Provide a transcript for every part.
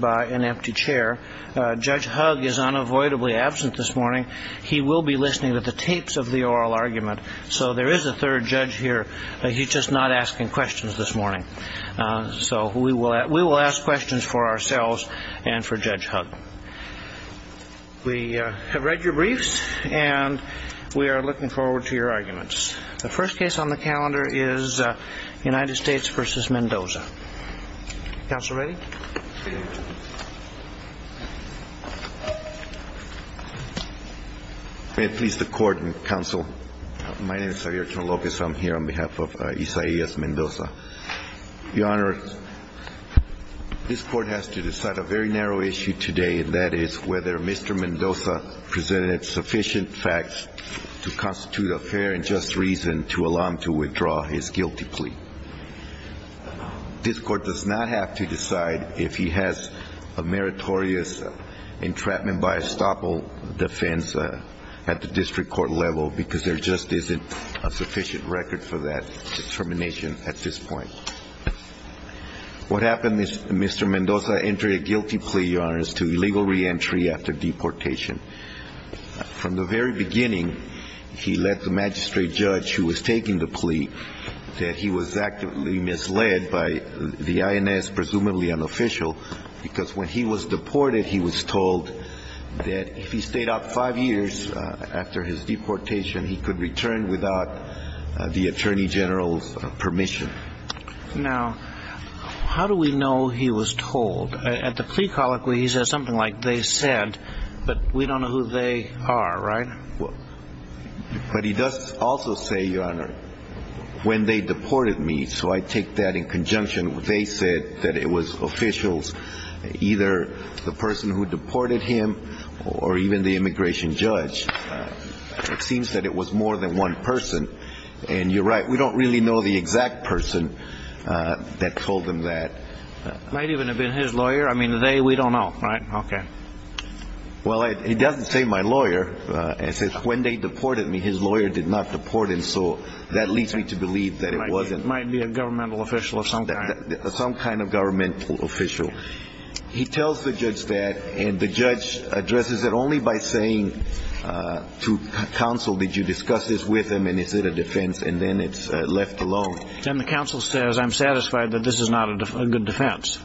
by an empty chair. Judge Hug is unavoidably absent this morning. He will be listening to the tapes of the oral argument. So there is a third judge here. He's just not asking questions this morning. So we will ask questions for ourselves and for Judge Hug. We have read your briefs and we are looking forward to your arguments. The first case on the calendar is United States v. Mendoza. May it please the Court and Counsel, my name is Javier Torralocas. I am here on behalf of Isaias Mendoza. Your Honor, this Court has to decide a very narrow issue today, and that is whether Mr. Mendoza presented sufficient facts to constitute a fair and just reason to allow him to withdraw his guilty plea. This Court does not have to decide if he has a meritorious entrapment by estoppel defense at the district court level, because there just isn't a sufficient record for that determination at this point. What happened is Mr. Mendoza entered a guilty plea, Your Honor, as to illegal reentry after he was taking the plea, that he was actively misled by the INS, presumably unofficial, because when he was deported, he was told that if he stayed out five years after his deportation, he could return without the Attorney General's permission. Now, how do we know he was told? At the plea colloquy, he says something like, they said, but we don't know who they are, right? But he does also say, Your Honor, when they deported me, so I take that in conjunction, they said that it was officials, either the person who deported him or even the immigration judge. It seems that it was more than one person. And you're right, we don't really know the exact person that told them that. It might even have been his lawyer. I mean, they, we don't know, right? Okay. Well, he doesn't say my lawyer. He says when they deported me, his lawyer did not deport him, so that leads me to believe that it wasn't. Might be a governmental official of some kind. Some kind of governmental official. He tells the judge that, and the judge addresses it only by saying to counsel, did you discuss this with him, and is it a defense? And then it's left alone. And the counsel says, I'm satisfied that this is not a good defense.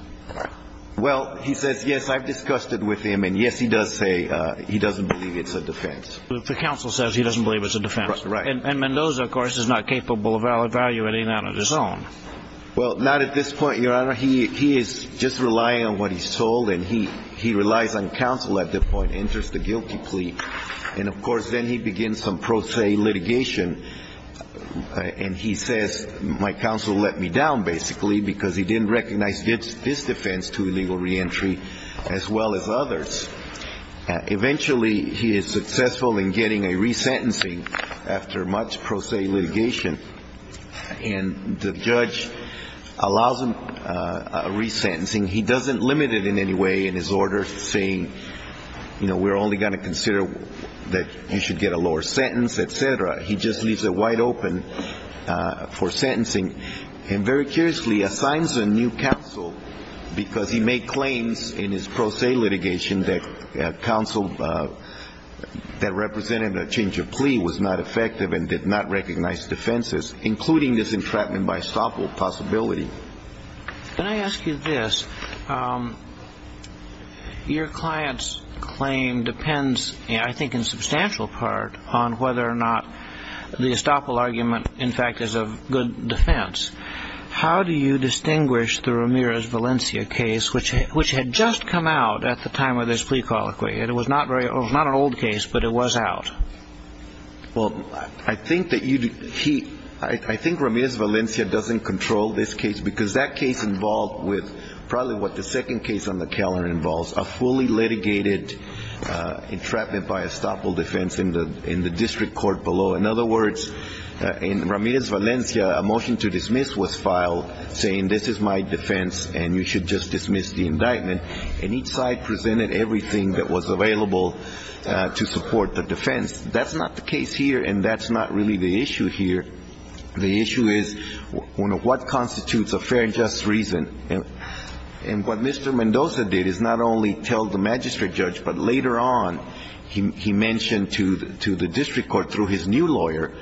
Well, he says, yes, I've discussed it with him, and yes, he does say he doesn't believe it's a defense. The counsel says he doesn't believe it's a defense. And Mendoza, of course, is not capable of evaluating that on his own. Well, not at this point, Your Honor. He is just relying on what he's told, and he relies on counsel at this point, enters the guilty plea. And of course, then he begins some pro se litigation, and he says, my counsel let me down, basically, because he didn't recognize this defense to illegal reentry as well as others. Eventually, he is successful in getting a resentencing after much pro se litigation. And the judge allows him a resentencing. He doesn't limit it in any way in his order, saying, you know, we're only going to consider that you should get a lower sentence, et cetera. He just leaves it wide open for sentencing. And very curiously, assigns a new counsel because he made claims in his pro se litigation that counsel that represented a change of plea was not effective and did not recognize defenses, including this entrapment by estoppel possibility. Can I ask you this? Your client's claim depends, I think, in substantial part on whether or not the estoppel argument, in fact, is of good defense. How do you distinguish the Ramirez Valencia case, which had just come out at the time of this plea colloquy? And it was not an old case, but it was out. Well, I think that he I think Ramirez Valencia doesn't control this case because that case involved with probably what the second case on the calendar involves, a fully litigated entrapment by estoppel defense in the district court below. In other words, in Ramirez Valencia, a motion to dismiss was filed saying this is my defense and you should just dismiss the indictment. And each side presented everything that was available to support the defense. That's not the case here. And that's not really the issue here. The issue is what constitutes a fair and just reason? And what Mr. Mendoza did is not only tell the magistrate judge, but later on he mentioned to the district court, through his new lawyer,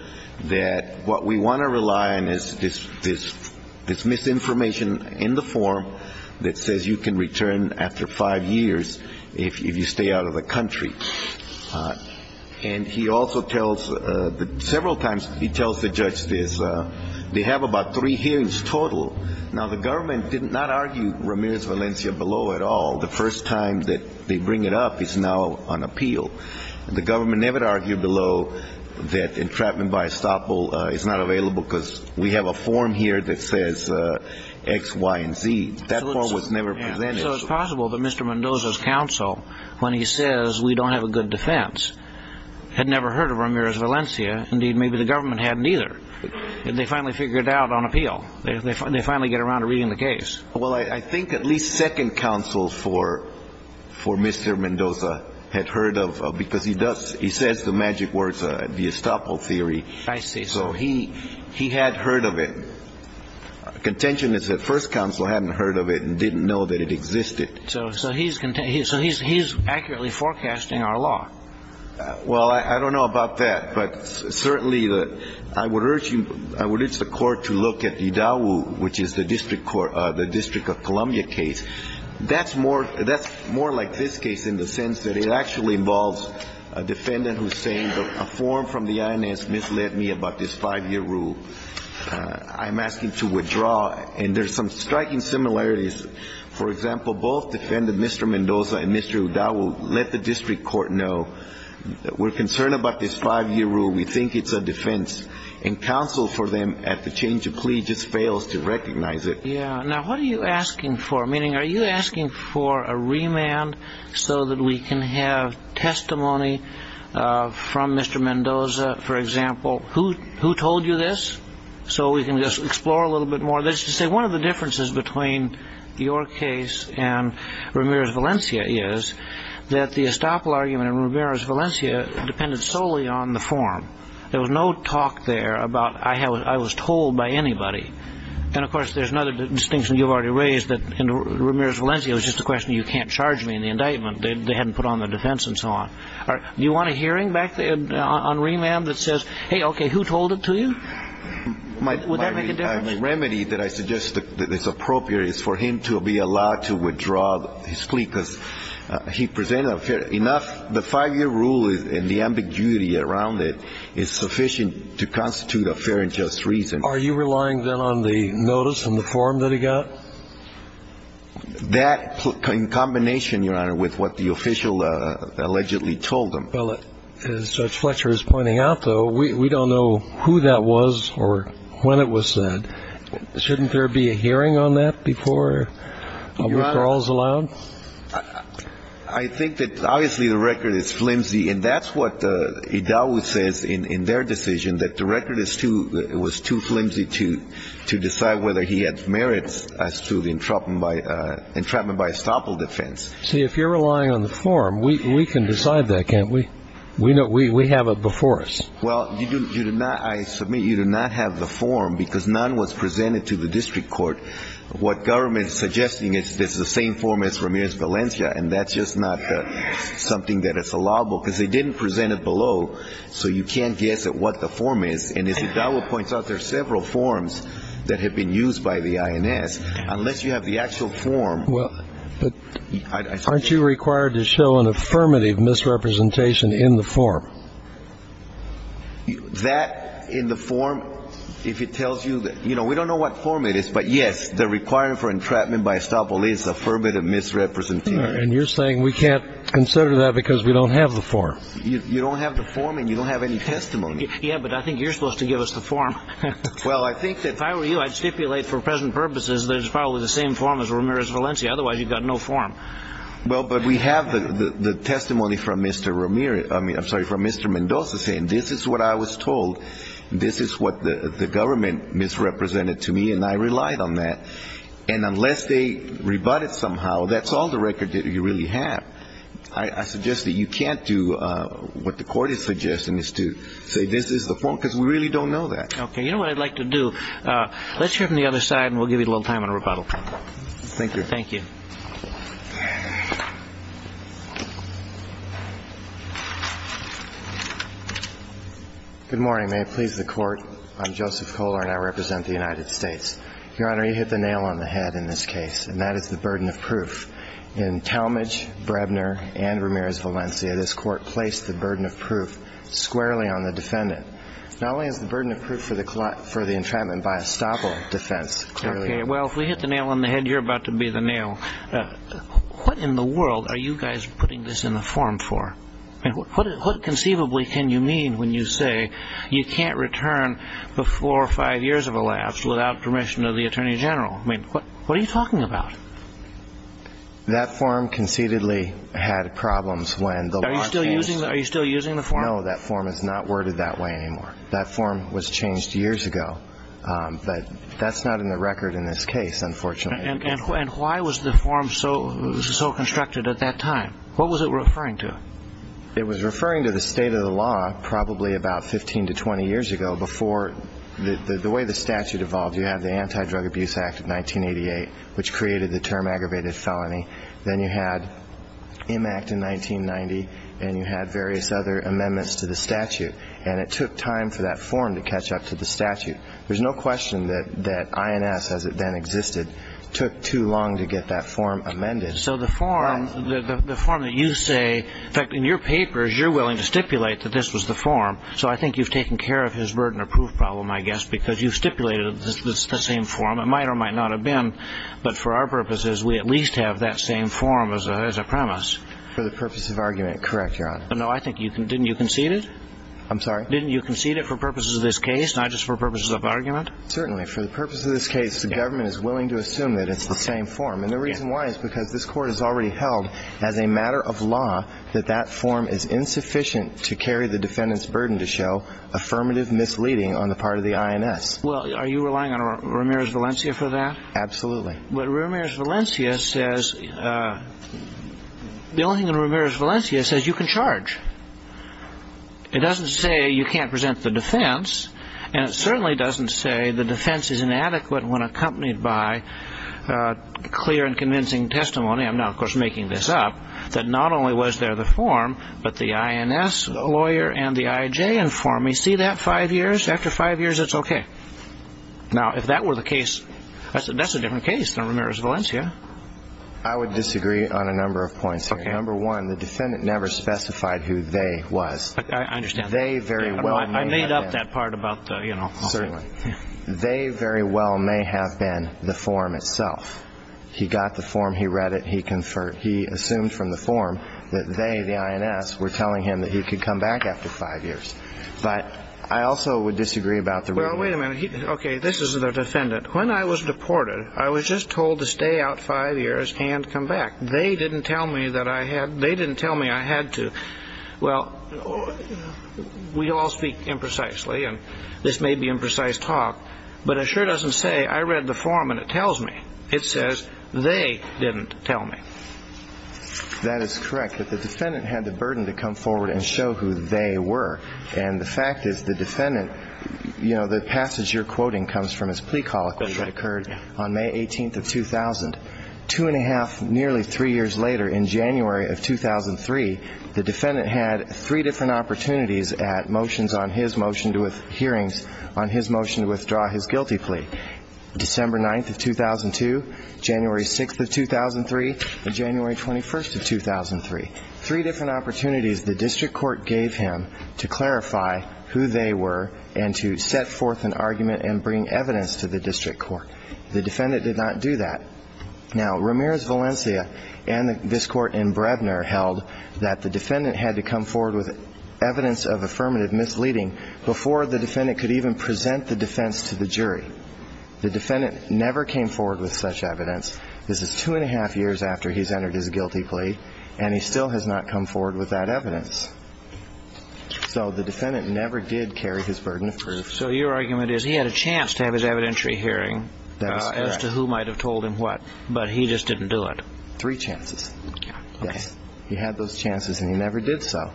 that what we want to rely on is this this this misinformation in the form that says you can return after five years if you stay out of the country. And he also tells several times he tells the judge this they have about three hearings total. Now, the government did not argue Ramirez Valencia below at all. The first time that they bring it up is now on appeal. The government never argued below that entrapment by estoppel is not available because we have a form here that says X, Y and Z that was never presented. So it's possible that Mr. Mendoza's counsel, when he says we don't have a good defense, had never heard of Ramirez Valencia. Indeed, maybe the government hadn't either. And they finally figured out on appeal. They finally get around to reading the case. Well, I think at least second counsel for for Mr. Mendoza had heard of because he does he says the magic words, the estoppel theory. I see. So he he had heard of it. Contention is that first counsel hadn't heard of it and didn't know that it existed. So so he's so he's he's accurately forecasting our law. Well, I don't know about that, but certainly I would urge you, I would urge the court to look at the Udawu, which is the district court, the District of Columbia case. That's more that's more like this case in the sense that it actually involves a defendant who's saying a form from the INS misled me about this five year rule. I'm asking to withdraw. And there's some striking similarities. For example, both defendant Mr. Mendoza and Mr. Udawu let the district court know that we're concerned about this five year rule. We think it's a defense and counsel for them at the change of plea just fails to recognize it. Yeah. Now, what are you asking for? Meaning, are you asking for a remand so that we can have testimony from Mr. Mendoza, for example, who who told you this so we can just explore a little bit more? That's to say one of the differences between your case and Ramirez Valencia is that the there was no talk there about I was told by anybody. And of course, there's another distinction you've already raised that Ramirez Valencia was just a question. You can't charge me in the indictment. They hadn't put on the defense and so on. Do you want a hearing back on remand that says, hey, OK, who told it to you? Would that make a difference? The remedy that I suggest that is appropriate is for him to be allowed to withdraw his plea because he presented enough. The five year rule and the ambiguity around it is sufficient to constitute a fair and just reason. Are you relying then on the notice and the form that he got? That in combination, your honor, with what the official allegedly told him, well, as Judge Fletcher is pointing out, though, we don't know who that was or when it was said, shouldn't there be a hearing on that before withdrawals allowed? I think that obviously the record is flimsy, and that's what it always says in their decision, that the record is too it was too flimsy to to decide whether he had merits as to the entrapment by entrapment by estoppel defense. See, if you're relying on the form, we can decide that, can't we? We know we have it before us. Well, you do not. I submit you do not have the form because none was presented to the district court. What government is suggesting is this the same form as Ramirez Valencia, and that's just not something that is allowable because they didn't present it below. So you can't guess at what the form is. And as it points out, there are several forms that have been used by the INS. Unless you have the actual form. Well, but aren't you required to show an affirmative misrepresentation in the form? That in the form, if it tells you that, you know, we don't know what form it is, but yes, the requirement for entrapment by estoppel is affirmative misrepresentation. And you're saying we can't consider that because we don't have the form. You don't have the form and you don't have any testimony. Yeah, but I think you're supposed to give us the form. Well, I think that if I were you, I'd stipulate for present purposes, there's probably the same form as Ramirez Valencia. Otherwise you've got no form. Well, but we have the testimony from Mr. Ramirez. I mean, I'm sorry, from Mr. Mendoza saying this is what I was told. This is what the government misrepresented to me. And I relied on that. And unless they rebut it somehow, that's all the record that you really have. I suggest that you can't do what the court is suggesting is to say this is the form, because we really don't know that. OK, you know what I'd like to do? Let's hear from the other side and we'll give you a little time on rebuttal. Thank you. Thank you. Good morning. May it please the court, I'm Joseph Kohler and I represent the United States. Your Honor, you hit the nail on the head in this case, and that is the burden of proof. In Talmadge, Brebner and Ramirez Valencia, this court placed the burden of proof squarely on the defendant. Not only is the burden of proof for the for the entrapment by estoppel defense. Well, if we hit the nail on the head, you're about to be the nail. What in the world are you guys putting this in the form for? And what conceivably can you mean when you say you can't return before five years of a lapse without permission of the attorney general? I mean, what are you talking about? That form concededly had problems when the law still using. Are you still using the form? No, that form is not worded that way anymore. That form was changed years ago. But that's not in the record in this case, unfortunately. And why was the form so constructed at that time? What was it referring to? It was referring to the state of the law probably about 15 to 20 years ago before the way the statute evolved. You have the Anti-Drug Abuse Act of 1988, which created the term aggravated felony. Then you had Im Act in 1990 and you had various other amendments to the statute. And it took time for that form to catch up to the statute. There's no question that that INS, as it then existed, took too long to get that form amended. So the form, the form that you say that in your papers, you're willing to stipulate that this was the form. So I think you've taken care of his burden of proof problem, I guess, because you stipulated the same form. It might or might not have been. But for our purposes, we at least have that same form as a premise for the purpose of argument. Correct. No, I think you can. Didn't you concede it? I'm sorry. Didn't you concede it for purposes of this case? Not just for purposes of argument. Certainly. For the purpose of this case, the government is willing to assume that it's the same form. And the reason why is because this court has already held as a matter of law that that form is insufficient to carry the defendant's burden to show affirmative misleading on the part of the INS. Well, are you relying on Ramirez Valencia for that? Absolutely. But Ramirez Valencia says the only thing that Ramirez Valencia says you can charge. It doesn't say you can't present the defense, and it certainly doesn't say the defense is inadequate when accompanied by clear and convincing testimony. I'm now, of course, making this up that not only was there the form, but the INS lawyer and the IJ informed me. See that five years after five years? It's OK. Now, if that were the case, that's a different case than Ramirez Valencia. I would disagree on a number of points. Number one, the defendant never specified who they was. I understand. They very well made up that part about, you know, certainly they very well may have been the form itself. He got the form. He read it. He confirmed he assumed from the form that they, the INS, were telling him that he could come back after five years. But I also would disagree about the. Well, wait a minute. OK, this is the defendant. When I was deported, I was just told to stay out five years and come back. They didn't tell me that I had they didn't tell me I had to. Well, we all speak imprecisely and this may be imprecise talk, but it sure doesn't say I read the form and it tells me it says they didn't tell me. That is correct, that the defendant had the burden to come forward and show who they were. And the fact is the defendant, you know, the passage you're quoting comes from this plea colloquy that occurred on May 18th of 2000, two and a half, nearly three years later, in January of 2003, the defendant had three different opportunities at motions on his motion to with hearings on his motion to withdraw his guilty plea. December 9th of 2002, January 6th of 2003, January 21st of 2003, three different opportunities the district court gave him to clarify who they were and to set forth an evidence to the district court. The defendant did not do that. Now, Ramirez Valencia and this court in Bredner held that the defendant had to come forward with evidence of affirmative misleading before the defendant could even present the defense to the jury. The defendant never came forward with such evidence. This is two and a half years after he's entered his guilty plea, and he still has not come forward with that evidence. So the defendant never did carry his burden of proof. So your argument is he had a chance to have his evidentiary hearing as to who might have told him what, but he just didn't do it. Three chances. Yes, he had those chances and he never did. So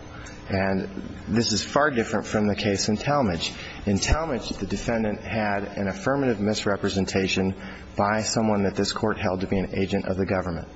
and this is far different from the case in Talmadge. In Talmadge, the defendant had an affirmative misrepresentation by someone that this court held to be an agent of the government.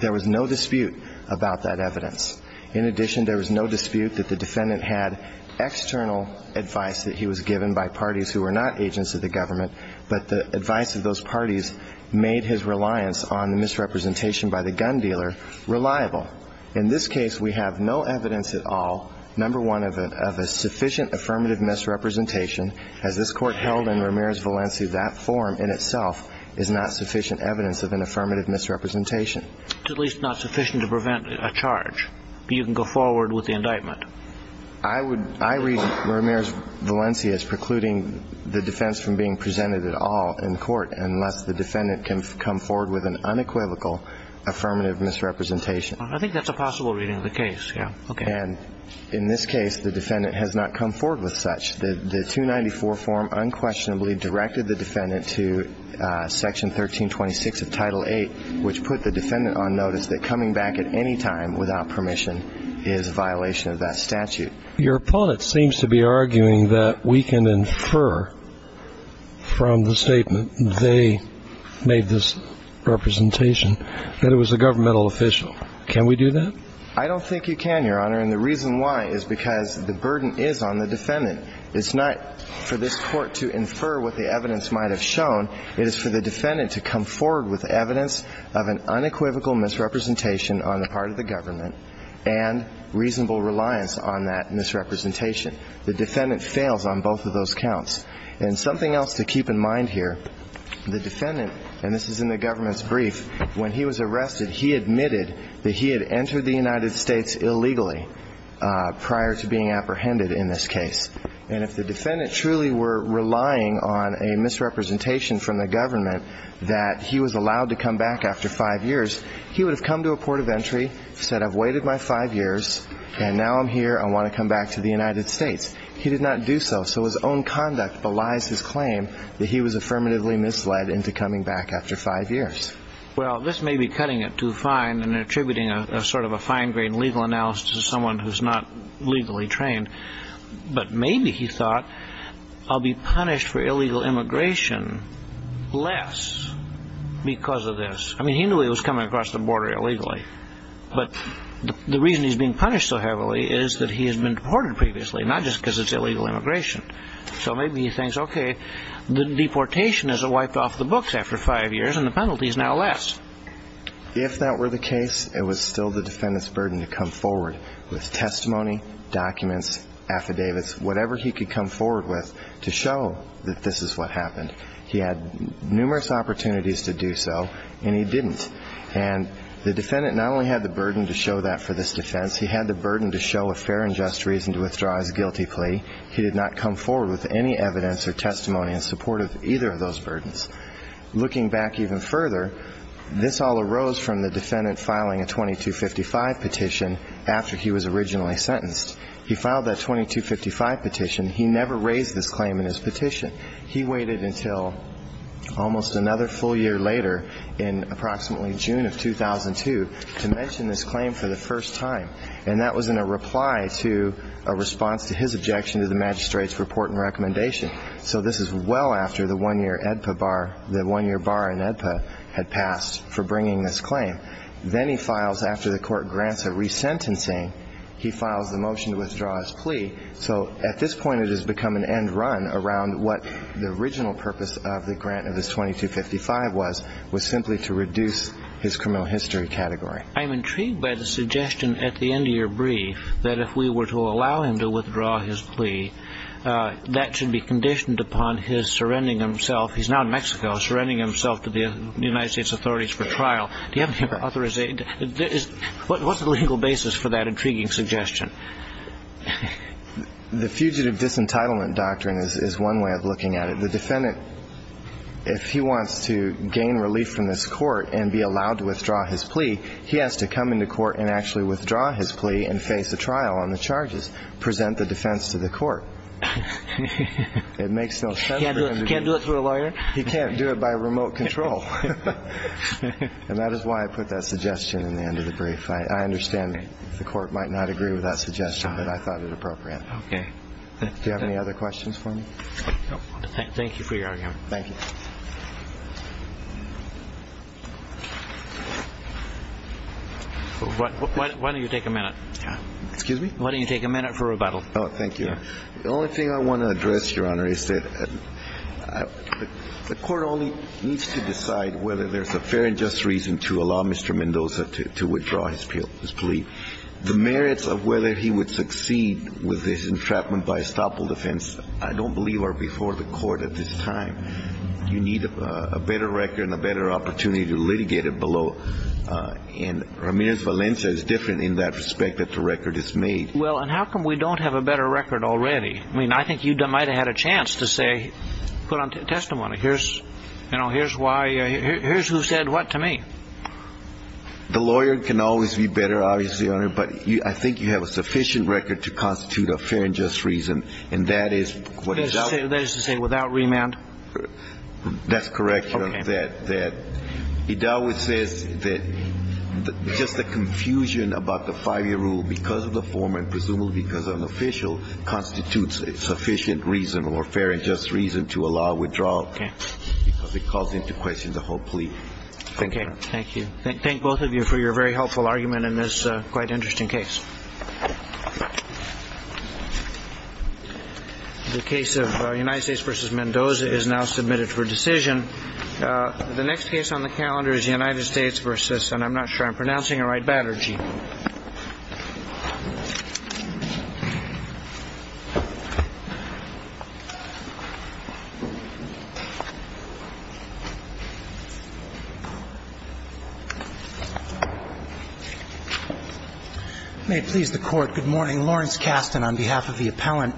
There was no dispute about that evidence. In addition, there was no dispute that the defendant had external advice that he was given by parties who were not agents of the government, but the advice of those parties made his reliance on the misrepresentation by the gun dealer reliable. In this case, we have no evidence at all, number one, of a sufficient affirmative misrepresentation, as this court held in Ramirez Valencia. That form in itself is not sufficient evidence of an affirmative misrepresentation, at least not sufficient to prevent a charge. You can go forward with the indictment. I would I read Ramirez Valencia as precluding the defense from being presented at all in court unless the defendant can come forward with an unequivocal affirmative misrepresentation. I think that's a possible reading of the case. Yeah. OK. And in this case, the defendant has not come forward with such. The 294 form unquestionably directed the defendant to Section 1326 of Title eight, which put the defendant on notice that coming back at any time without permission is a violation of that statute. Your opponent seems to be arguing that we can infer from the statement they made this representation that it was a governmental official. Can we do that? I don't think you can, Your Honor. And the reason why is because the burden is on the defendant. It's not for this court to infer what the evidence might have shown. It is for the defendant to come forward with evidence of an unequivocal misrepresentation on the part of the government and reasonable reliance on that misrepresentation. The defendant fails on both of those counts. And something else to keep in mind here, the defendant and this is in the government's brief, when he was arrested, he admitted that he had entered the United States illegally prior to being apprehended in this case. And if the defendant truly were relying on a misrepresentation from the government that he was allowed to come back after five years, he would have come to a port of entry, said, I've waited my five years and now I'm here. I want to come back to the United States. He did not do so. So his own conduct belies his claim that he was affirmatively misled into coming back after five years. Well, this may be cutting it too fine and attributing a sort of a fine grained legal analysis to someone who's not legally trained. But maybe he thought, I'll be punished for illegal immigration less because of this. I mean, he knew he was coming across the border illegally. But the reason he's being punished so heavily is that he has been deported previously, not just because it's illegal immigration. So maybe he thinks, OK, the deportation is wiped off the books after five years and the penalty is now less. If that were the case, it was still the defendant's burden to come forward with testimony, documents, affidavits, whatever he could come forward with to show that this is what happened. He had numerous opportunities to do so and he didn't. And the defendant not only had the burden to show that for this defense, he had the burden to show a fair and just reason to withdraw his guilty plea. He did not come forward with any evidence or testimony in support of either of those burdens. Looking back even further, this all arose from the defendant filing a 2255 petition after he was originally sentenced. He filed that 2255 petition. He never raised this claim in his petition. He waited until almost another full year later in approximately June of 2002 to mention this claim for the first time. And that was in a reply to a response to his objection to the magistrate's report and recommendation. So this is well after the one-year Edpa bar, the one-year bar in Edpa had passed for bringing this claim. Then he files after the court grants a resentencing, he files the motion to withdraw his plea. So at this point, it has become an end run around what the original purpose of the grant of this 2255 was, was simply to reduce his criminal history category. I'm intrigued by the suggestion at the end of your brief that if we were to allow him to withdraw his plea, that should be conditioned upon his surrendering himself. He's now in Mexico, surrendering himself to the United States authorities for trial. Do you have any other authorization? What was the legal basis for that intriguing suggestion? The fugitive disentitlement doctrine is one way of looking at it. The defendant, if he wants to gain relief from this court and be allowed to withdraw his plea, he has to come into court and actually withdraw his plea and face a trial on the charges, present the defense to the court. It makes no sense. You can't do it through a lawyer. You can't do it by remote control. And that is why I put that suggestion in the end of the brief. I understand the court might not agree with that suggestion, but I thought it appropriate. Okay. Do you have any other questions for me? Thank you for your argument. Thank you. Why don't you take a minute? Excuse me? Why don't you take a minute for rebuttal? Oh, thank you. The only thing I want to address, Your Honor, is that the court only needs to decide whether there's a fair and just reason to allow Mr. Mendoza to withdraw his plea. The merits of whether he would succeed with this entrapment by estoppel defense, I don't believe, are before the court at this time. You need a better record and a better opportunity to litigate it below. And Ramirez Valencia is different in that respect that the record is made. Well, and how come we don't have a better record already? I mean, I think you might have had a chance to say, put on testimony, here's who said what to me. The lawyer can always be better, obviously, Your Honor, but I think you have a sufficient record to constitute a fair and just reason. And that is what is out there to say without remand. That's correct. That that it always says that just the confusion about the five year rule because of the former and presumably because of an official constitutes a sufficient reason or fair and just reason to allow withdrawal because it calls into question the whole plea. OK, thank you. Thank both of you for your very helpful argument in this quite interesting case. The case of United States versus Mendoza is now submitted for decision. The next case on the calendar is the United States versus and I'm not sure I'm pronouncing it right. Batterji. May it please the court. Good morning, Lawrence Kasten on behalf of the appellant.